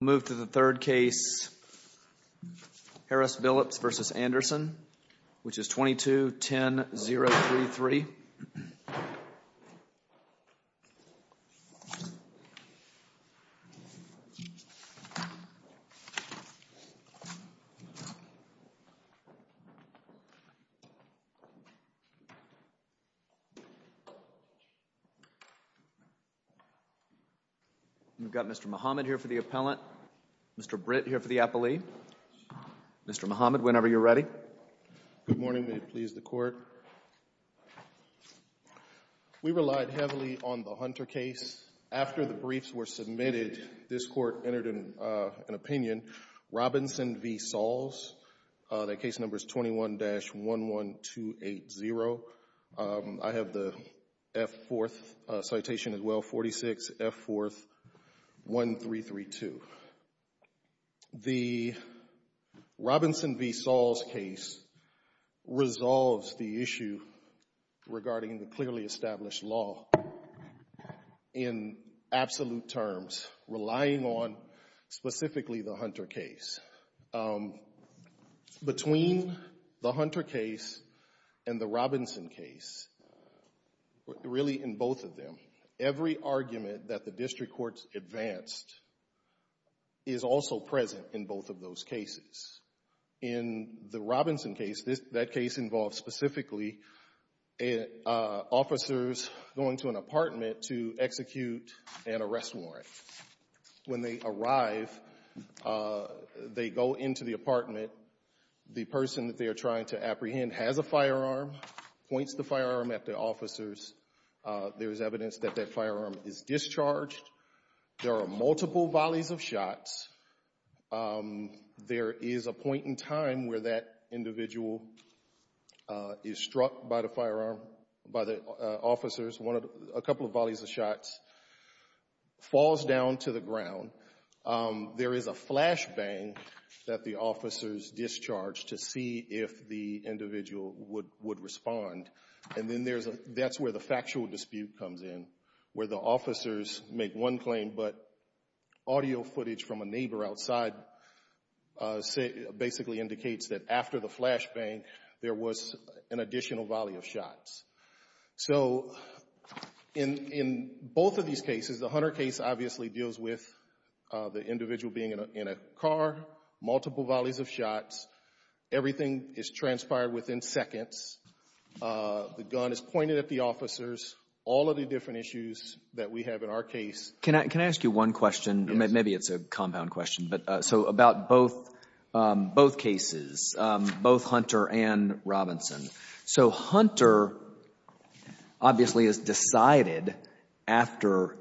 Move to the third case, Harris-Billups v. Anderson, which is 22-10-033. We've got Mr. Mohamed here for the appellant, Mr. Britt here for the appellee. Mr. Mohamed, whenever you're ready. Good morning. May it please the Court. We relied heavily on the Hunter case. After the briefs were submitted, this Court entered an opinion. Robinson v. Sahls, the case number is 21-11280. I have the F-4th citation as well, 46 F-4th 1332. The Robinson v. Sahls case resolves the issue regarding the clearly established law in absolute terms, relying on specifically the Hunter case. Between the Hunter case and the Robinson case, really in both of them, every argument that is also present in both of those cases. In the Robinson case, that case involved specifically officers going to an apartment to execute an arrest warrant. When they arrive, they go into the apartment. The person that they are trying to apprehend has a firearm, points the firearm at the officers. There is evidence that that firearm is discharged. There are multiple volleys of shots. There is a point in time where that individual is struck by the officers, a couple of volleys of shots, falls down to the ground. There is a flashbang that the officers discharge to see if the individual would respond. That is where the factual dispute comes in, where the officers make one claim, but audio footage from a neighbor outside basically indicates that after the flashbang, there was an additional volley of shots. In both of these cases, the Hunter case obviously deals with the individual being in a car, multiple volleys of shots, everything is transpired within seconds. The gun is pointed at the officers, all of the different issues that we have in our case. Can I ask you one question? Maybe it's a compound question, but so about both cases, both Hunter and Robinson. So Hunter obviously is decided after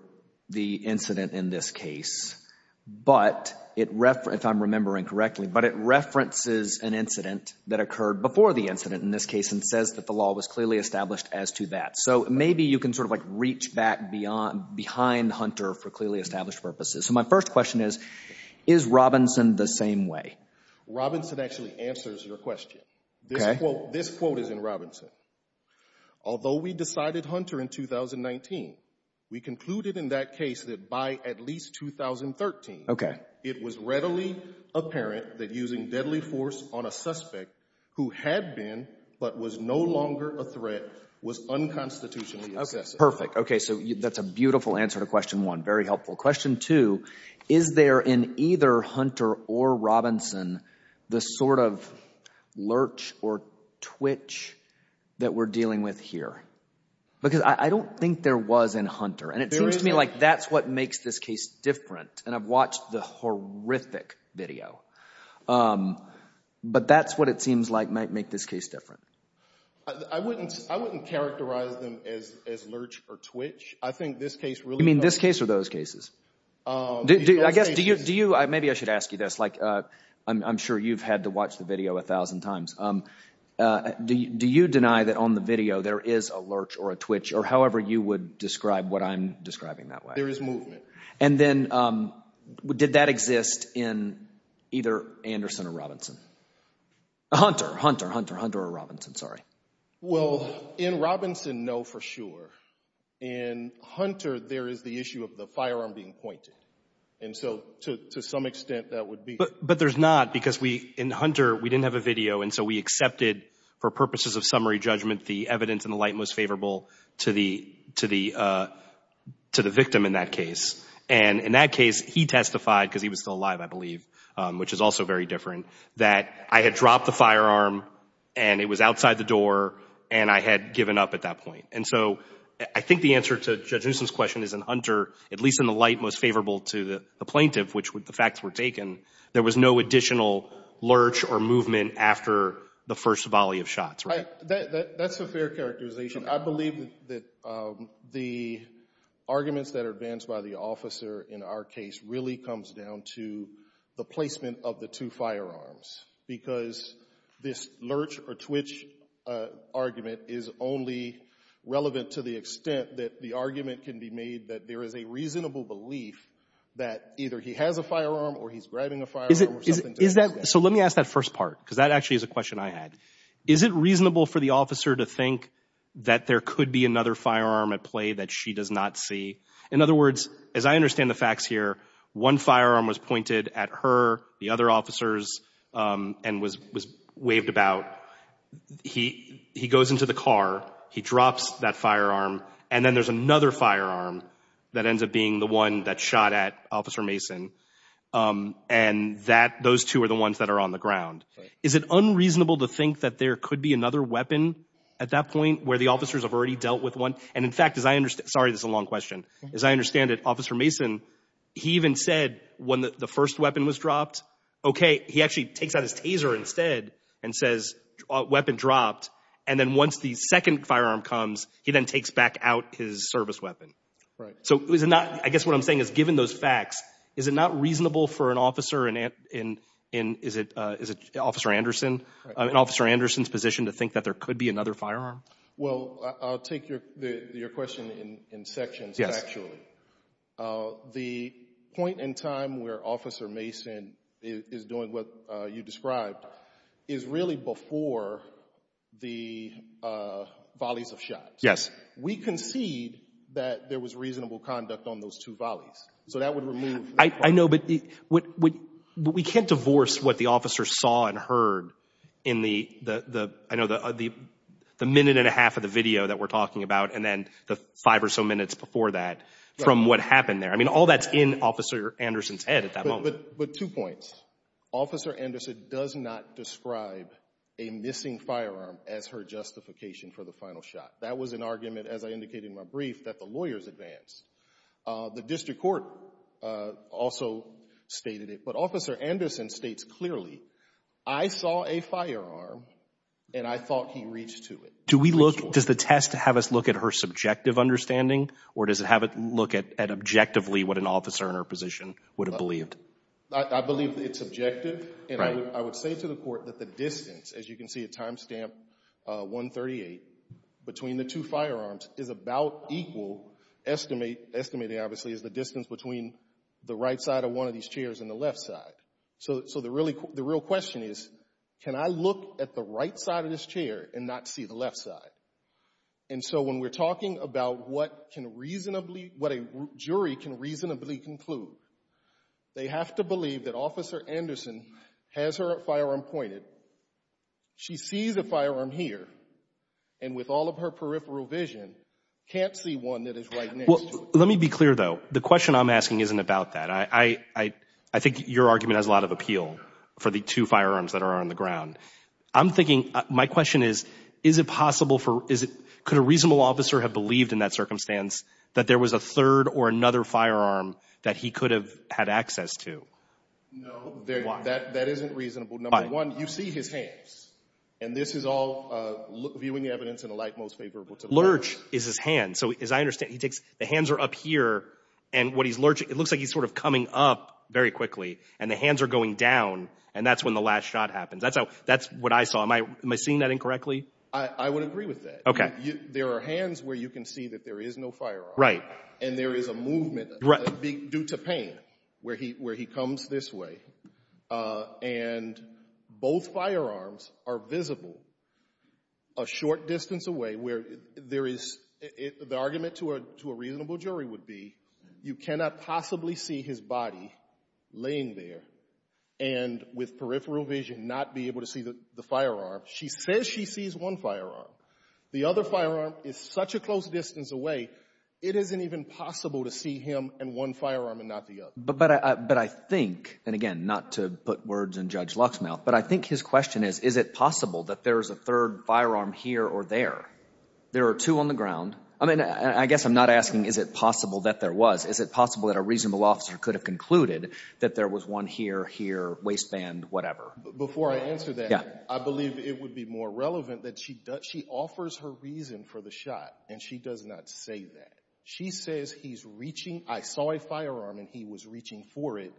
the incident in this case, but it, if I'm remembering correctly, but it references an incident that occurred before the incident in this case and says that the law was clearly established as to that. So maybe you can sort of like reach back behind Hunter for clearly established purposes. So my first question is, is Robinson the same way? Robinson actually answers your question. This quote is in Robinson. Although we decided Hunter in 2019, we concluded in that case that by at least 2013, it was readily apparent that using deadly force on a suspect who had been, but was no longer a threat was unconstitutionally excessive. Perfect. Okay. So that's a beautiful answer to question one. Very helpful. Question two, is there in either Hunter or Robinson, the sort of lurch or twitch that we're dealing with here? Because I don't think there was in Hunter. And it seems to me like that's what makes this case different. And I've watched the horrific video, but that's what it seems like might make this case different. I wouldn't, I wouldn't characterize them as lurch or twitch. I think this case really… You mean this case or those cases? I guess, do you, do you, maybe I should ask you this. Like, I'm sure you've had to watch the video a thousand times. Do you deny that on the video there is a lurch or a twitch or however you would describe what I'm describing that way? There is movement. And then did that exist in either Anderson or Robinson? Hunter, Hunter, Hunter, Hunter or Robinson. Sorry. Well, in Robinson, no, for sure. In Hunter, there is the issue of the firearm being pointed. And so, to some extent, that would be… But there's not, because we, in Hunter, we didn't have a video. And so, we accepted, for purposes of summary judgment, the evidence and the light most favorable to the, to the, to the victim in that case. And in that case, he testified, because he was still alive, I believe, which is also very different, that I had dropped the firearm and it was outside the door and I had given up at that point. And so, I think the answer to Judge Newsom's question is in Hunter, at least in the light most favorable to the plaintiff, which the facts were taken, there was no additional lurch or movement after the first volley of shots, right? That's a fair characterization. I believe that the arguments that are advanced by the officer in our case really comes down to the placement of the two firearms. Because this lurch or twitch argument is only relevant to the extent that the argument can be made that there is a reasonable belief that either he has a firearm or he's grabbing a firearm or something to do with that. So, let me ask that first part, because that actually is a question I had. Is it reasonable for the officer to think that there could be another firearm at play that she does not see? In other words, as I understand the facts here, one firearm was pointed at her, the other officers, and was waved about. He goes into the car. He drops that firearm. And then there's another firearm that ends up being the one that shot at Officer Mason. And those two are the ones that are on the ground. Is it unreasonable to think that there could be another weapon at that point where the officers have already dealt with one? And in fact, as I understand—sorry, this is a long question. As I understand it, Officer Mason, he even said when the first weapon was dropped, okay, he actually takes out his taser instead and says, weapon dropped. And then once the second firearm comes, he then takes back out his service weapon. Right. So, is it not—I guess what I'm saying is, given those facts, is it not reasonable for an officer in—is it Officer Anderson's position to think that there could be another firearm? Well, I'll take your question in sections, actually. The point in time where Officer Mason is doing what you described is really before the volleys of shots. Yes. We concede that there was reasonable conduct on those two volleys. So that would remove— I know, but we can't divorce what the officer saw and heard in the—I know the minute and a half of the video that we're talking about and then the five or so minutes before that from what happened there. I mean, all that's in Officer Anderson's head at that moment. But two points. Officer Anderson does not describe a missing firearm as her justification for the final shot. That was an argument, as I indicated in my brief, that the lawyers advance. The district court also stated it, but Officer Anderson states clearly, I saw a firearm and I thought he reached to it. Do we look—does the test have us look at her subjective understanding, or does it have it look at objectively what an officer in her position would have believed? I believe it's objective, and I would say to the court that the distance, as you can see at timestamp 138, between the two firearms is about equal, estimating, obviously, is the distance between the right side of one of these chairs and the left side. So the real question is, can I look at the right side of this chair and not see the left side? And so when we're talking about what a jury can reasonably conclude, they have to believe that Officer Anderson has her firearm pointed. She sees a firearm here, and with all of her peripheral vision, can't see one that is right next to it. Let me be clear, though. The question I'm asking isn't about that. I think your argument has a lot of appeal for the two firearms that are on the ground. I'm thinking—my question is, is it possible for—could a reasonable officer have believed in that circumstance that there was a third or another firearm that he could have had access to? No, that isn't reasonable. Number one, you see his hands, and this is all viewing evidence in a light most favorable to the law. Lurch is his hand. So as I understand, he takes—the hands are up here, and what he's lurching—it looks like he's sort of coming up very quickly, and the hands are going down, and that's when the last shot happens. That's how—that's what I saw. Am I—am I seeing that incorrectly? I would agree with that. Okay. There are hands where you can see that there is no firearm. Right. And there is a movement due to pain where he comes this way, and both firearms are visible a short distance away where there is—the argument to a reasonable jury would be you cannot possibly see his body laying there and with peripheral vision not be able to see the firearm. She says she sees one firearm. The other firearm is such a close distance away, it isn't even possible to see him and one firearm and not the other. But I think—and again, not to put words in Judge Luch's mouth—but I think his question is, is it possible that there is a third firearm here or there? There are two on the ground. I mean, I guess I'm not asking is it possible that there was. Is it possible that a reasonable officer could have concluded that there was one here, here, waistband, whatever? Before I answer that, I believe it would be more relevant that she does—she offers her reason for the shot, and she does not say that. She says he's reaching—I saw a firearm and he was reaching for it,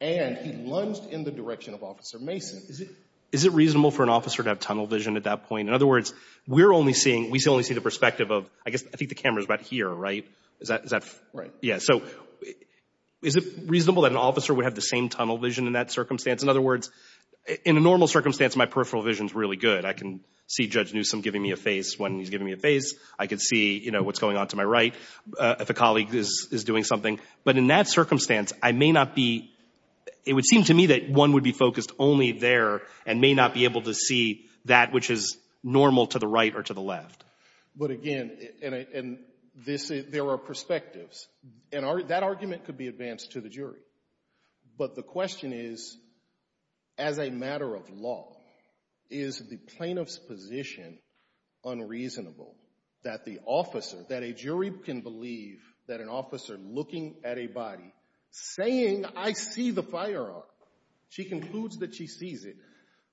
and he lunged in the direction of Officer Mason. Is it reasonable for an officer to have tunnel vision at that point? In other words, we're only seeing—we only see the perspective of—I guess I think the camera's about here, right? Is that— Right. So is it reasonable that an officer would have the same tunnel vision in that circumstance? In other words, in a normal circumstance, my peripheral vision's really good. I can see Judge Newsom giving me a face when he's giving me a face. I can see, you know, what's going on to my right if a colleague is doing something. But in that circumstance, I may not be—it would seem to me that one would be focused only there and may not be able to see that which is normal to the right or to the left. But again, and this—there are perspectives. And that argument could be advanced to the jury. But the question is, as a matter of law, is the plaintiff's position unreasonable that the officer—that a jury can believe that an officer looking at a body, saying I see the firearm, she concludes that she sees it,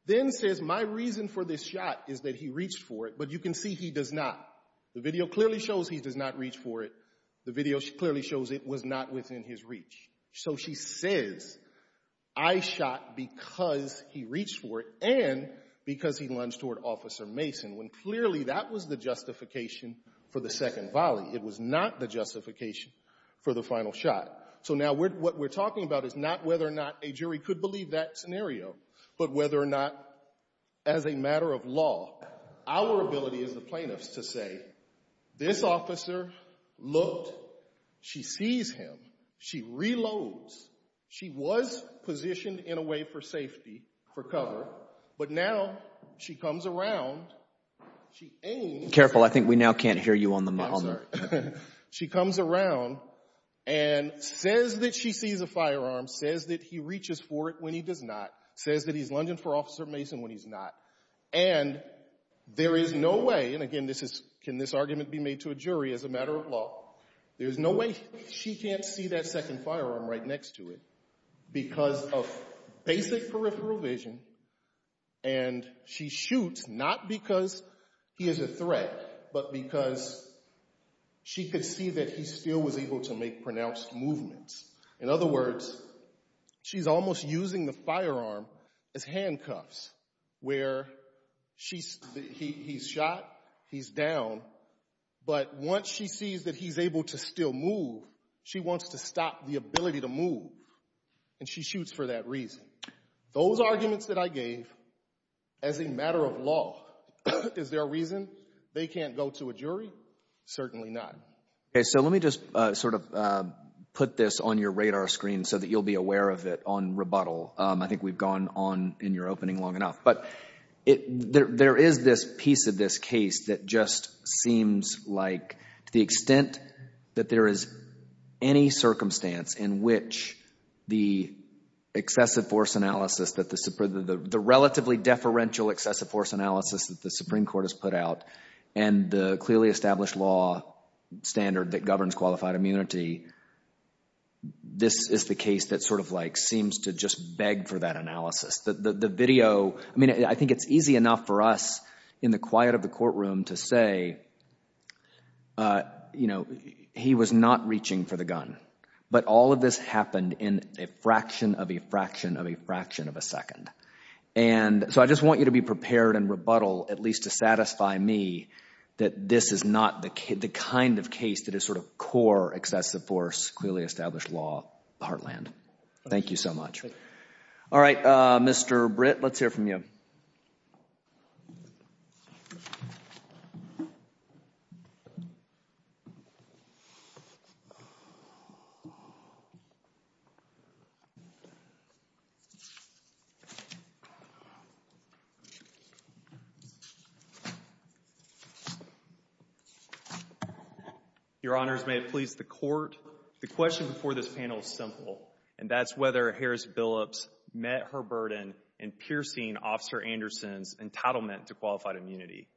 then says my reason for this shot is that he reached for it, but you can see he does not. The video clearly shows he does not reach for it. The video clearly shows it was not within his reach. So she says I shot because he reached for it and because he lunged toward Officer Mason, when clearly that was the justification for the second volley. It was not the justification for the final shot. So now what we're talking about is not whether or not a jury could believe that scenario, but whether or not, as a matter of law, our ability as the plaintiffs to say, this officer looked, she sees him, she reloads, she was positioned in a way for safety, for cover, but now she comes around, she aims— Careful. I think we now can't hear you on the— I'm sorry. She comes around and says that she sees a firearm, says that he reaches for it when he does not, says that he's lunging for Officer Mason when he's not, and there is no way— And again, can this argument be made to a jury as a matter of law? There's no way she can't see that second firearm right next to it because of basic peripheral vision, and she shoots not because he is a threat, but because she could see that he still was able to make pronounced movements. In other words, she's almost using the firearm as handcuffs where he's shot, he's down, but once she sees that he's able to still move, she wants to stop the ability to move, and she shoots for that reason. Those arguments that I gave as a matter of law, is there a reason they can't go to a jury? Certainly not. Okay. So let me just sort of put this on your radar screen so that you'll be aware of it on rebuttal. I think we've gone on in your opening long enough, but there is this piece of this case that just seems like to the extent that there is any circumstance in which the excessive force analysis, the relatively deferential excessive force analysis that the Supreme Court, the fairly established law standard that governs qualified immunity, this is the case that sort of like seems to just beg for that analysis. The video, I mean, I think it's easy enough for us in the quiet of the courtroom to say, you know, he was not reaching for the gun, but all of this happened in a fraction of a fraction of a fraction of a second. And so I just want you to be prepared and rebuttal, at least to satisfy me that this is not the kind of case that is sort of core excessive force, clearly established law, Heartland. Thank you so much. All right, Mr. Britt, let's hear from you. Thank you. Your Honors, may it please the Court. The question before this panel is simple, and that's whether Harris-Billups met her burden in piercing Officer Anderson's entitlement to qualified immunity.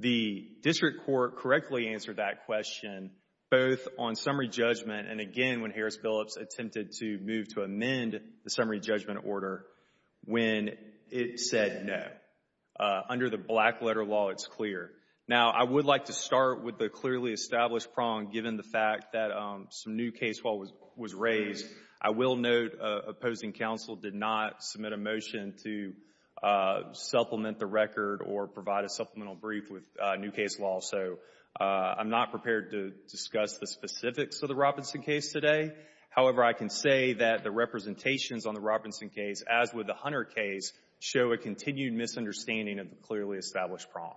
The district court correctly answered that question both on summary judgment and again when Harris-Billups attempted to move to amend the summary judgment order when it said no. Under the black letter law, it's clear. Now, I would like to start with the clearly established prong given the fact that some new case law was raised. I will note opposing counsel did not submit a motion to supplement the record or provide a supplemental brief with new case law. I'm not prepared to discuss the specifics of the Robinson case today. However, I can say that the representations on the Robinson case, as with the Hunter case, show a continued misunderstanding of the clearly established prong.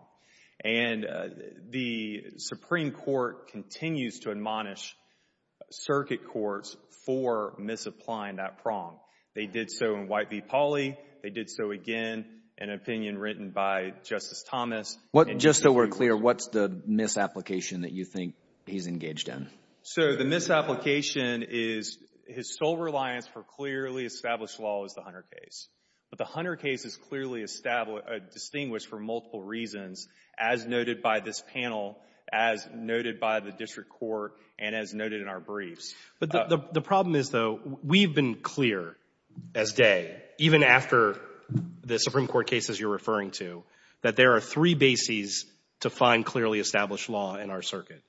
The Supreme Court continues to admonish circuit courts for misapplying that prong. They did so in White v. Pauley. They did so again in an opinion written by Justice Thomas. Just so we're clear, what's the misapplication that you think he's engaged in? So the misapplication is his sole reliance for clearly established law is the Hunter case. But the Hunter case is clearly distinguished for multiple reasons, as noted by this panel, as noted by the district court, and as noted in our briefs. But the problem is, though, we've been clear as day, even after the Supreme Court cases you're referring to, that there are three bases to find clearly established law in our circuit.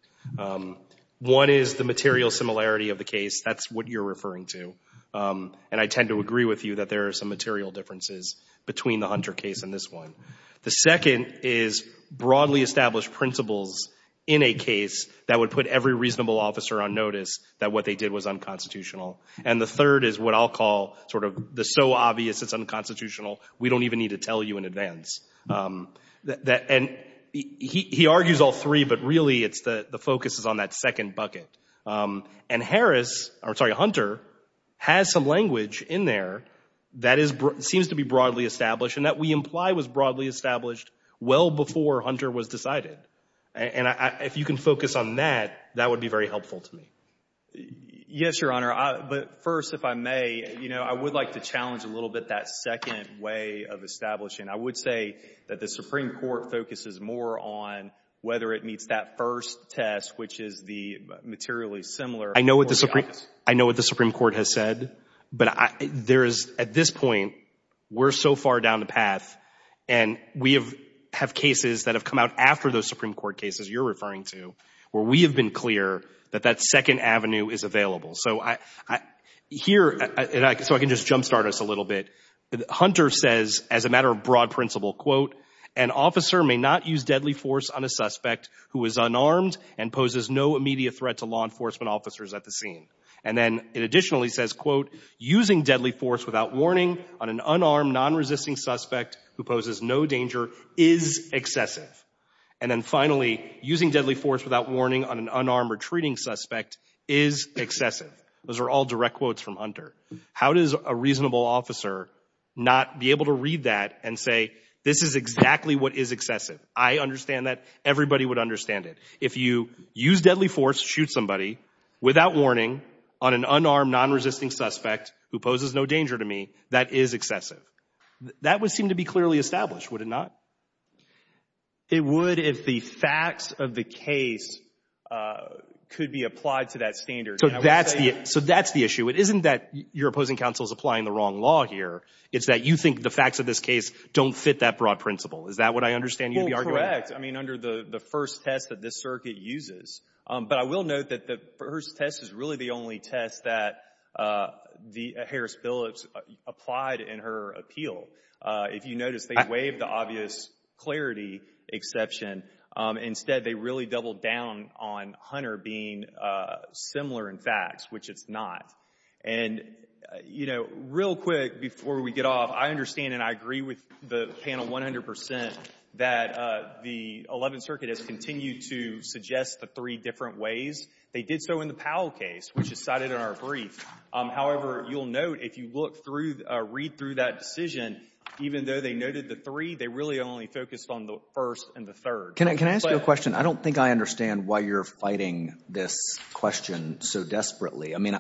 One is the material similarity of the case. That's what you're referring to. And I tend to agree with you that there are some material differences between the Hunter case and this one. The second is broadly established principles in a case that would put every reasonable officer on notice that what they did was unconstitutional. And the third is what I'll call sort of the so obvious it's unconstitutional, we don't even need to tell you in advance. And he argues all three, but really the focus is on that second bucket. And Hunter has some language in there that seems to be broadly established, and that we imply was broadly established well before Hunter was decided. And if you can focus on that, that would be very helpful to me. Yes, Your Honor. But first, if I may, you know, I would like to challenge a little bit that second way of establishing. I would say that the Supreme Court focuses more on whether it meets that first test, which is the materially similar. I know what the Supreme Court has said, but there is, at this point, we're so far down the path, and we have cases that have come out after those Supreme Court cases you're clear that that second avenue is available. So here, so I can just jumpstart us a little bit. Hunter says, as a matter of broad principle, quote, an officer may not use deadly force on a suspect who is unarmed and poses no immediate threat to law enforcement officers at the scene. And then it additionally says, quote, using deadly force without warning on an unarmed, non-resisting suspect who poses no danger is excessive. And then finally, using deadly force without warning on an unarmed, retreating suspect is excessive. Those are all direct quotes from Hunter. How does a reasonable officer not be able to read that and say, this is exactly what is excessive? I understand that. Everybody would understand it. If you use deadly force to shoot somebody without warning on an unarmed, non-resisting suspect who poses no danger to me, that is excessive. That would seem to be clearly established, would it not? It would if the facts of the case could be applied to that standard. So that's the issue. It isn't that your opposing counsel is applying the wrong law here. It's that you think the facts of this case don't fit that broad principle. Is that what I understand you to be arguing? Well, correct. I mean, under the first test that this circuit uses. But I will note that the first test is really the only test that Harris Billups applied in her appeal. If you notice, they waived the obvious clarity exception. Instead, they really doubled down on Hunter being similar in facts, which it's not. And, you know, real quick before we get off, I understand and I agree with the panel 100% that the 11th Circuit has continued to suggest the three different ways. They did so in the Powell case, which is cited in our brief. However, you'll note if you look through, read through that decision, even though they noted the three, they really only focused on the first and the third. Can I ask you a question? I don't think I understand why you're fighting this question so desperately. I mean,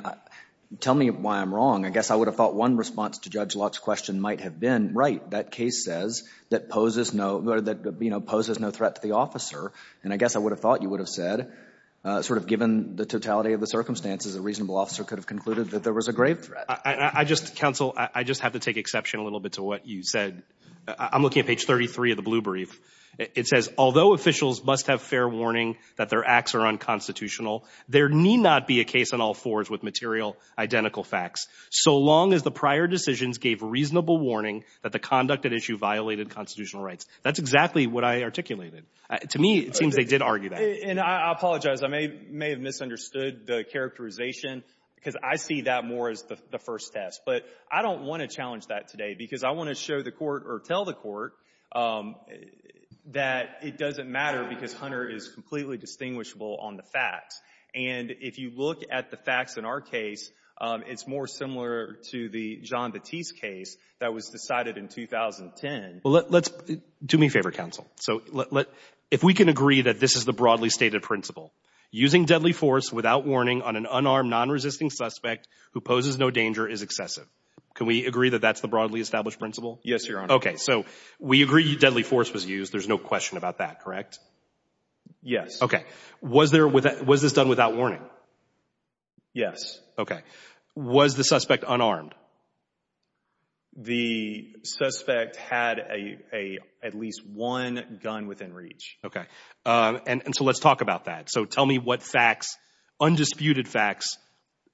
tell me why I'm wrong. I guess I would have thought one response to Judge Locke's question might have been, right, that case says that poses no threat to the officer. And I guess I would have thought you would have said, sort of given the totality of the circumstances, a reasonable officer could have concluded that there was a grave threat. I just, counsel, I just have to take exception a little bit to what you said. I'm looking at page 33 of the blue brief. It says, although officials must have fair warning that their acts are unconstitutional, there need not be a case on all fours with material identical facts, so long as the prior decisions gave reasonable warning that the conduct at issue violated constitutional rights. That's exactly what I articulated. To me, it seems they did argue that. And I apologize, I may have misunderstood the characterization because I see that more as the first test. But I don't want to challenge that today because I want to show the court or tell the court that it doesn't matter because Hunter is completely distinguishable on the facts. And if you look at the facts in our case, it's more similar to the John Batiste case that was decided in 2010. Well, let's, do me a favor, counsel. So let, if we can agree that this is the broadly stated principle, using deadly force without warning on an unarmed non-resisting suspect who poses no danger is excessive. Can we agree that that's the broadly established principle? Yes, Your Honor. Okay. So we agree deadly force was used. There's no question about that, correct? Yes. Okay. Was there, was this done without warning? Yes. Okay. Was the suspect unarmed? The suspect had a, a, at least one gun within reach. Okay. And so let's talk about that. So tell me what facts, undisputed facts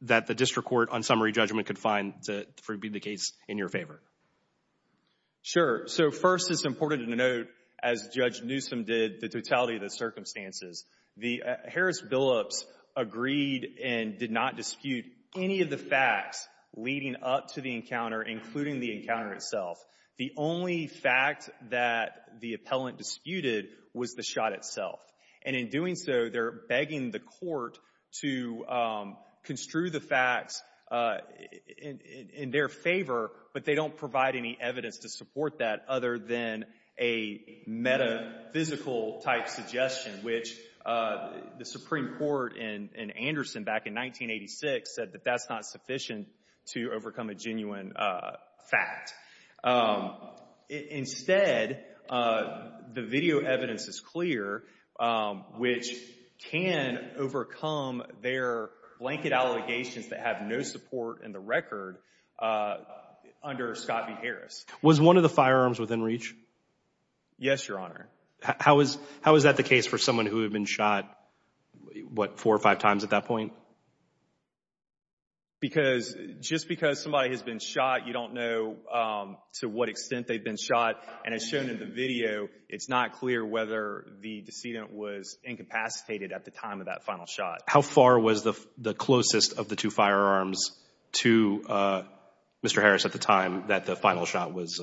that the district court on summary judgment could find to be the case in your favor. Sure. So first it's important to note, as Judge Newsom did, the totality of the circumstances. The Harris-Billups agreed and did not dispute any of the facts leading up to the encounter, including the encounter itself. The only fact that the appellant disputed was the shot itself. And in doing so, they're begging the court to construe the facts in their favor, but they don't provide any evidence to support that other than a metaphysical type suggestion, which the Supreme Court in Anderson back in 1986 said that that's not sufficient to overcome a genuine fact. Instead, the video evidence is clear, which can overcome their blanket allegations that have no support in the record under Scott v. Harris. Was one of the firearms within reach? Yes, Your Honor. How is that the case for someone who had been shot, what, four or five times at that point? Because just because somebody has been shot, you don't know to what extent they've been shot. And as shown in the video, it's not clear whether the decedent was incapacitated at the time of that final shot. How far was the closest of the two firearms to Mr. Harris at the time that the final shot was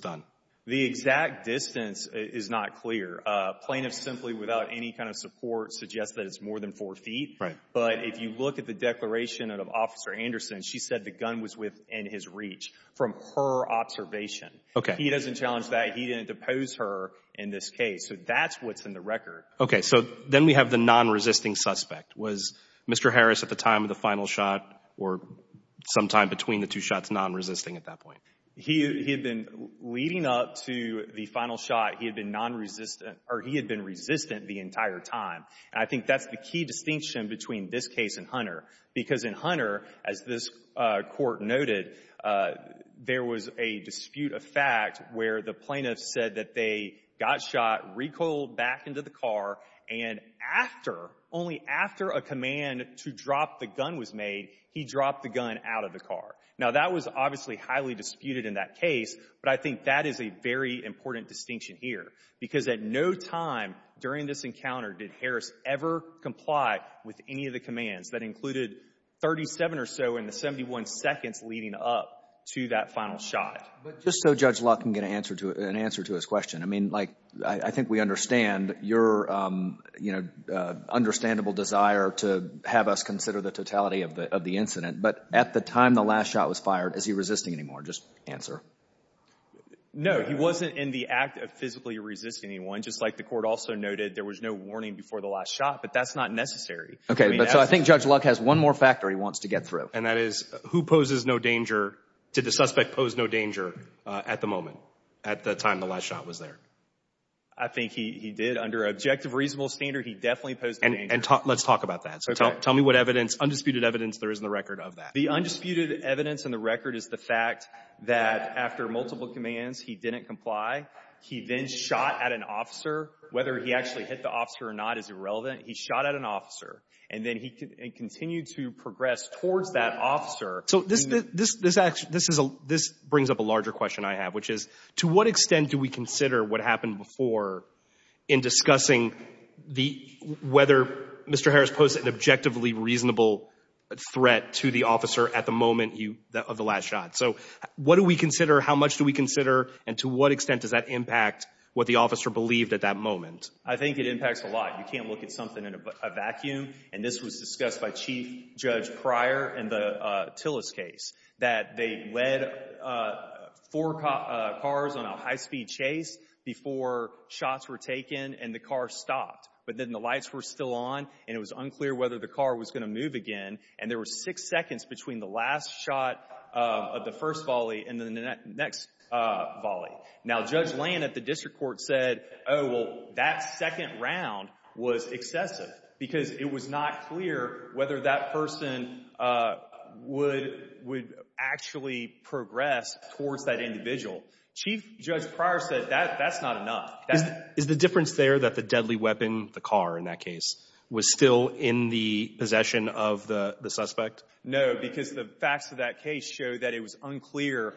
done? The exact distance is not clear. Plaintiffs simply without any kind of support suggest that it's more than four feet. But if you look at the declaration of Officer Anderson, she said the gun was within his reach from her observation. He doesn't challenge that. He didn't depose her in this case. So that's what's in the record. Okay. So then we have the non-resisting suspect. Was Mr. Harris at the time of the final shot or sometime between the two shots non-resisting at that point? He had been leading up to the final shot. He had been non-resistant, or he had been resistant the entire time. And I think that's the key distinction between this case and Hunter. Because in Hunter, as this Court noted, there was a dispute of fact where the plaintiffs said that they got shot, recoiled back into the car, and after, only after a command to drop the gun was made, he dropped the gun out of the car. Now, that was obviously highly disputed in that case, but I think that is a very important distinction here. Because at no time during this encounter did Harris ever comply with any of the commands that included 37 or so in the 71 seconds leading up to that final shot. But just so Judge Locke can get an answer to his question. I mean, like, I think we understand your, you know, understandable desire to have us consider the totality of the incident. But at the time the last shot was fired, is he resisting anymore? Just answer. No, he wasn't in the act of physically resisting anyone. Just like the Court also noted, there was no warning before the last shot. But that's not necessary. Okay, but so I think Judge Locke has one more factor he wants to get through. And that is, who poses no danger? Did the suspect pose no danger at the moment, at the time the last shot was there? I think he did. Under objective reasonable standard, he definitely posed no danger. And let's talk about that. Tell me what evidence, undisputed evidence, there is in the record of that. The undisputed evidence in the record is the fact that after multiple commands, he didn't comply. He then shot at an officer. Whether he actually hit the officer or not is irrelevant. He shot at an officer. And then he continued to progress towards that officer. So this brings up a larger question I have, which is, to what extent do we consider what is an objectively reasonable threat to the officer at the moment of the last shot? So what do we consider? How much do we consider? And to what extent does that impact what the officer believed at that moment? I think it impacts a lot. You can't look at something in a vacuum. And this was discussed by Chief Judge Pryor in the Tillis case. That they led four cars on a high-speed chase before shots were taken and the car stopped. But then the lights were still on and it was unclear whether the car was going to move again. And there were six seconds between the last shot of the first volley and the next volley. Now, Judge Lane at the district court said, oh, well, that second round was excessive because it was not clear whether that person would actually progress towards that individual. Chief Judge Pryor said that's not enough. Is the difference there that the deadly weapon, the car in that case, was still in the possession of the suspect? No, because the facts of that case show that it was unclear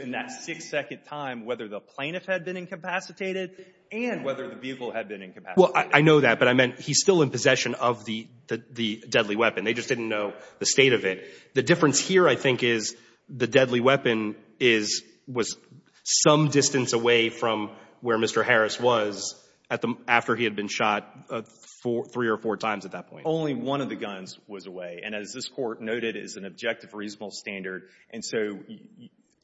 in that six-second time whether the plaintiff had been incapacitated and whether the vehicle had been incapacitated. Well, I know that. But I meant he's still in possession of the deadly weapon. They just didn't know the state of it. The difference here, I think, is the deadly weapon was some distance away from where Mr. Harris was after he had been shot three or four times at that point. Only one of the guns was away. And as this Court noted, it is an objective, reasonable standard. And so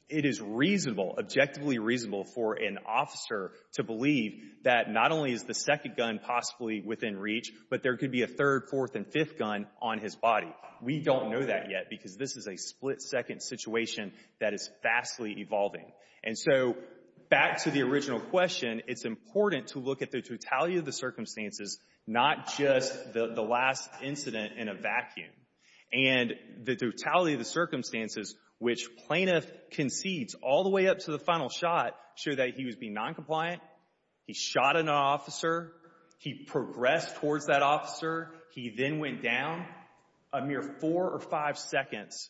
it is reasonable, objectively reasonable, for an officer to believe that not only is the second gun possibly within reach, but there could be a third, fourth, and fifth gun on his body. We don't know that yet because this is a split-second situation that is vastly evolving. And so back to the original question, it's important to look at the totality of the circumstances, not just the last incident in a vacuum. And the totality of the circumstances, which plaintiff concedes all the way up to the final shot, show that he was being noncompliant, he shot an officer, he progressed towards that officer, he then went down a mere four or five seconds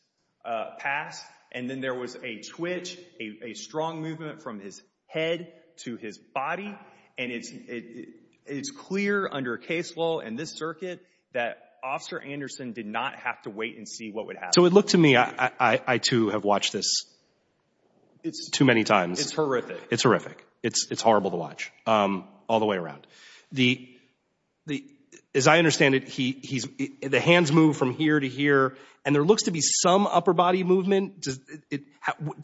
past. And then there was a twitch, a strong movement from his head to his body. And it's clear under case law and this circuit that Officer Anderson did not have to wait and see what would happen. So it looked to me, I too have watched this too many times. It's horrific. It's horrific. It's horrible to watch all the way around. The, as I understand it, the hands move from here to here and there looks to be some upper body movement.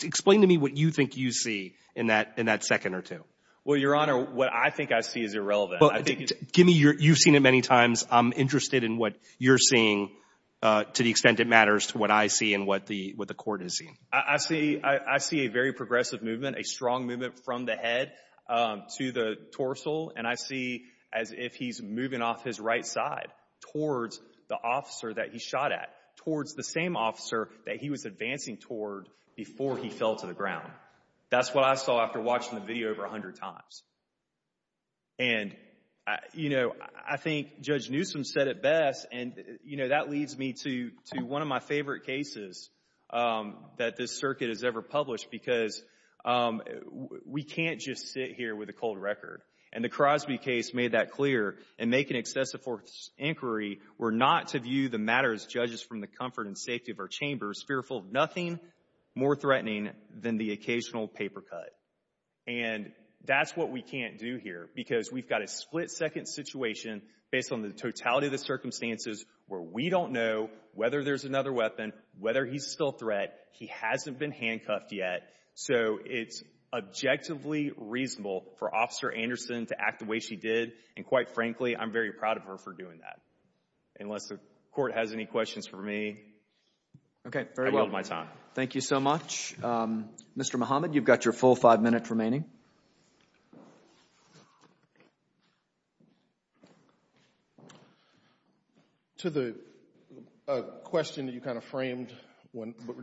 Explain to me what you think you see in that second or two. Well, Your Honor, what I think I see is irrelevant. Give me your, you've seen it many times. I'm interested in what you're seeing to the extent it matters to what I see and what the court is seeing. I see a very progressive movement, a strong movement from the head to the torso. And I see as if he's moving off his right side towards the officer that he shot at, towards the same officer that he was advancing toward before he fell to the ground. That's what I saw after watching the video over 100 times. And, you know, I think Judge Newsom said it best. And, you know, that leads me to one of my favorite cases that this circuit has ever published because we can't just sit here with a cold record. And the Crosby case made that clear and make an excessive inquiry. We're not to view the matters judges from the comfort and safety of our chambers fearful of nothing more threatening than the occasional paper cut. And that's what we can't do here because we've got a split second situation based on the totality of the circumstances where we don't know whether there's another weapon, whether he's still a threat. He hasn't been handcuffed yet. So it's objectively reasonable for Officer Anderson to act the way she did. And quite frankly, I'm very proud of her for doing that. Unless the court has any questions for me. Okay, very well. I'm out of my time. Thank you so much. Mr. Muhammad, you've got your full five minutes remaining. To the question that you kind of framed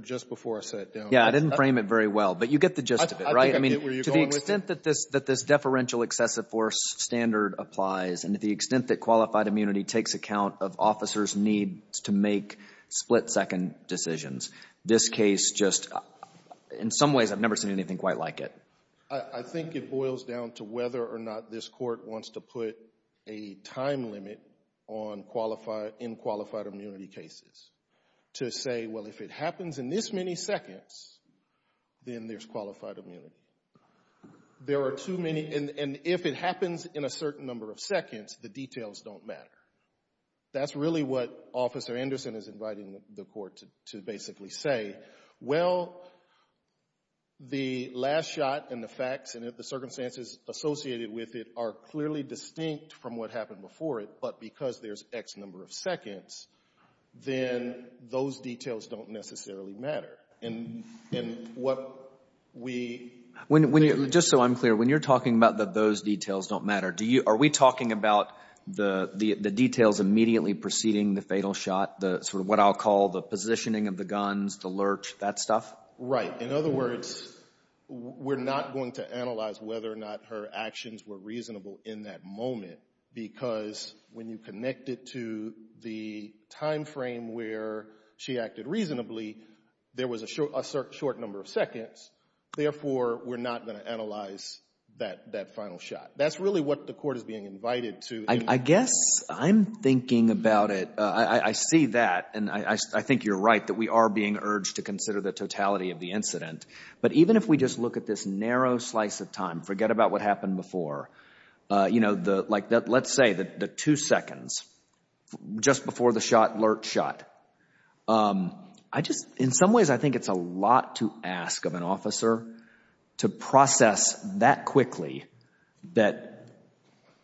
just before I sat down. I didn't frame it very well, but you get the gist of it, right? I mean, to the extent that this deferential excessive force standard applies and to the extent that qualified immunity takes account of officers need to make split second decisions. This case just, in some ways, I've never seen anything quite like it. I think it boils down to whether or not this court wants to put a time limit on in qualified immunity cases to say, well, if it happens in this many seconds, then there's qualified immunity. There are too many, and if it happens in a certain number of seconds, the details don't matter. That's really what Officer Anderson is inviting the court to basically say. Well, the last shot and the facts and the circumstances associated with it are clearly distinct from what happened before it, but because there's X number of seconds, then those details don't necessarily matter. Just so I'm clear, when you're talking about that those details don't matter, are we talking about the details immediately preceding the fatal shot, the sort of what I'll call the positioning of the guns, the lurch, that stuff? Right. In other words, we're not going to analyze whether or not her actions were reasonable in that moment because when you connect it to the time frame where she acted reasonably, there was a short number of seconds. Therefore, we're not going to analyze that final shot. That's really what the court is being invited to. I guess I'm thinking about it. I see that, and I think you're right that we are being urged to consider the totality of the incident. But even if we just look at this narrow slice of time, forget about what happened before, like let's say the two seconds just before the shot, lurch shot. In some ways, I think it's a lot to ask of an officer to process that quickly that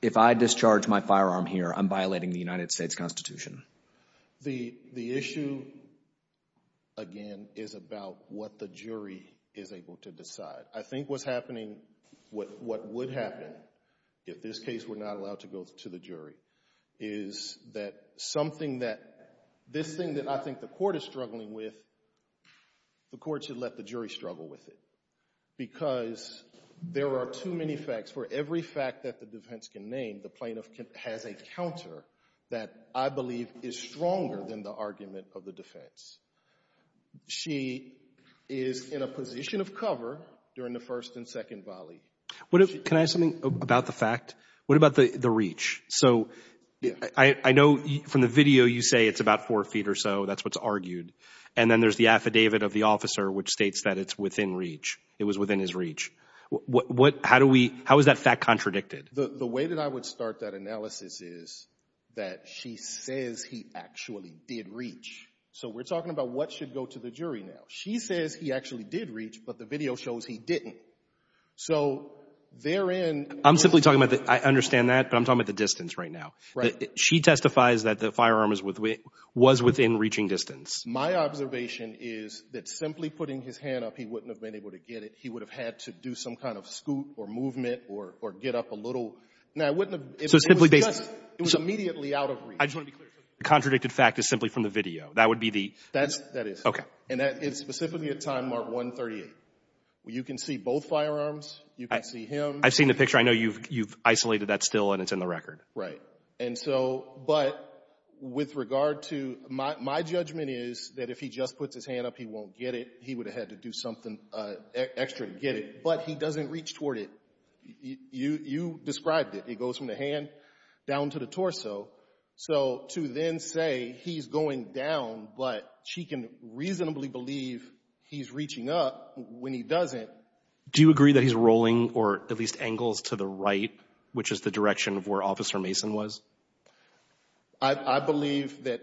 if I discharge my firearm here, I'm violating the United States Constitution. The issue, again, is about what the jury is able to decide. I think what's happening, what would happen if this case were not allowed to go to the jury, is that something that, this thing that I think the court is struggling with, the court should let the jury struggle with it because there are too many facts. For every fact that the defense can name, the plaintiff has a counter that I believe is stronger than the argument of the defense. She is in a position of cover during the first and second volley. Can I ask something about the fact? What about the reach? So I know from the video you say it's about four feet or so, that's what's argued. And then there's the affidavit of the officer which states that it's within reach. It was within his reach. How is that fact contradicted? The way that I would start that analysis is that she says he actually did reach. So we're talking about what should go to the jury now. She says he actually did reach, but the video shows he didn't. So therein... I'm simply talking about, I understand that, but I'm talking about the distance right now. She testifies that the firearm was within reaching distance. My observation is that simply putting his hand up, he wouldn't have been able to get it. He would have had to do some kind of scoot or movement or get up a little. Now, it wouldn't have... So simply based... It was immediately out of reach. The contradicted fact is simply from the video. That would be the... That is. Okay. And that is specifically at time mark 1.38. You can see both firearms. You can see him. I've seen the picture. I know you've isolated that still and it's in the record. Right. And so... But with regard to... My judgment is that if he just puts his hand up, he won't get it. He would have had to do something extra to get it. But he doesn't reach toward it. You described it. It goes from the hand down to the torso. So to then say he's going down, but she can reasonably believe he's reaching up when he doesn't. Do you agree that he's rolling or at least angles to the right, which is the direction of where Officer Mason was? I believe that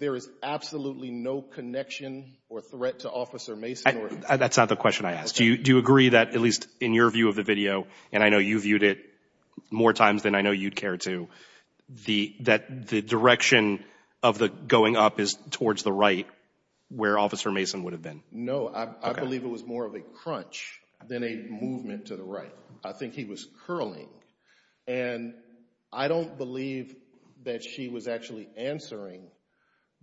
there is absolutely no connection or threat to Officer Mason or... That's not the question I asked. Do you agree that, at least in your view of the video, and I know you viewed it more times than I know you'd care to, that the direction of the going up is towards the right where Officer Mason would have been? No, I believe it was more of a crunch than a movement to the right. I think he was curling. And I don't believe that she was actually answering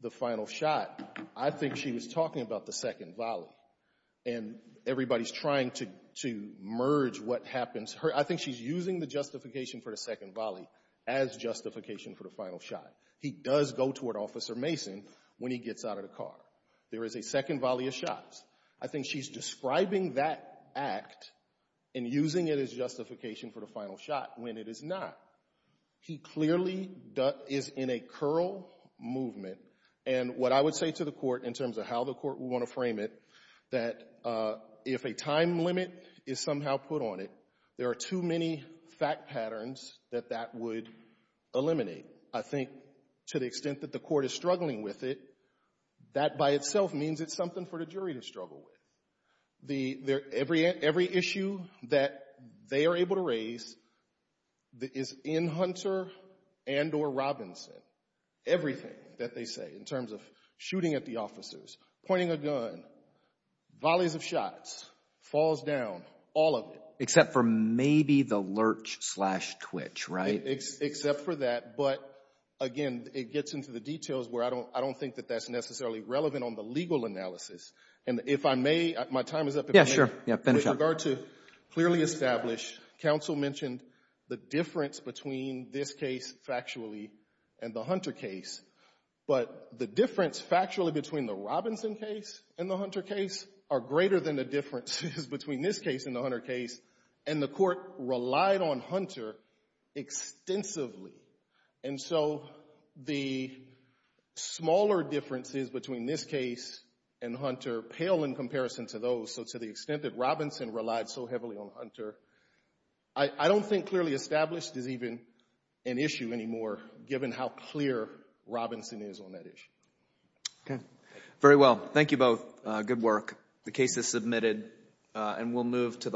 the final shot. I think she was talking about the second volley. And everybody's trying to merge what happens. I think she's using the justification for the second volley as justification for the final shot. He does go toward Officer Mason when he gets out of the car. There is a second volley of shots. I think she's describing that act and using it as justification for the final shot when it is not. He clearly is in a curl movement. And what I would say to the Court in terms of how the Court would want to frame it, that if a time limit is somehow put on it, there are too many fact patterns that that would eliminate. I think to the extent that the Court is struggling with it, that by itself means it's something for the jury to struggle with. Every issue that they are able to raise is in Hunter and or Robinson. Everything that they say in terms of shooting at the officers, pointing a gun, volleys of shots, falls down, all of it. Except for maybe the lurch slash twitch, right? Except for that. But again, it gets into the details where I don't think that that's necessarily relevant on the legal analysis. And if I may, my time is up. Yeah, sure. Yeah, finish up. With regard to clearly established, counsel mentioned the difference between this case factually and the Hunter case. But the difference factually between the Robinson case and the Hunter case are greater than the differences between this case and the Hunter case. And the Court relied on Hunter extensively. And so the smaller differences between this case and Hunter pale in comparison to those. So to the extent that Robinson relied so heavily on Hunter, I don't think clearly established is even an issue anymore, given how clear Robinson is on that issue. Okay, very well. Thank you both. Good work. The case is submitted and we'll move to the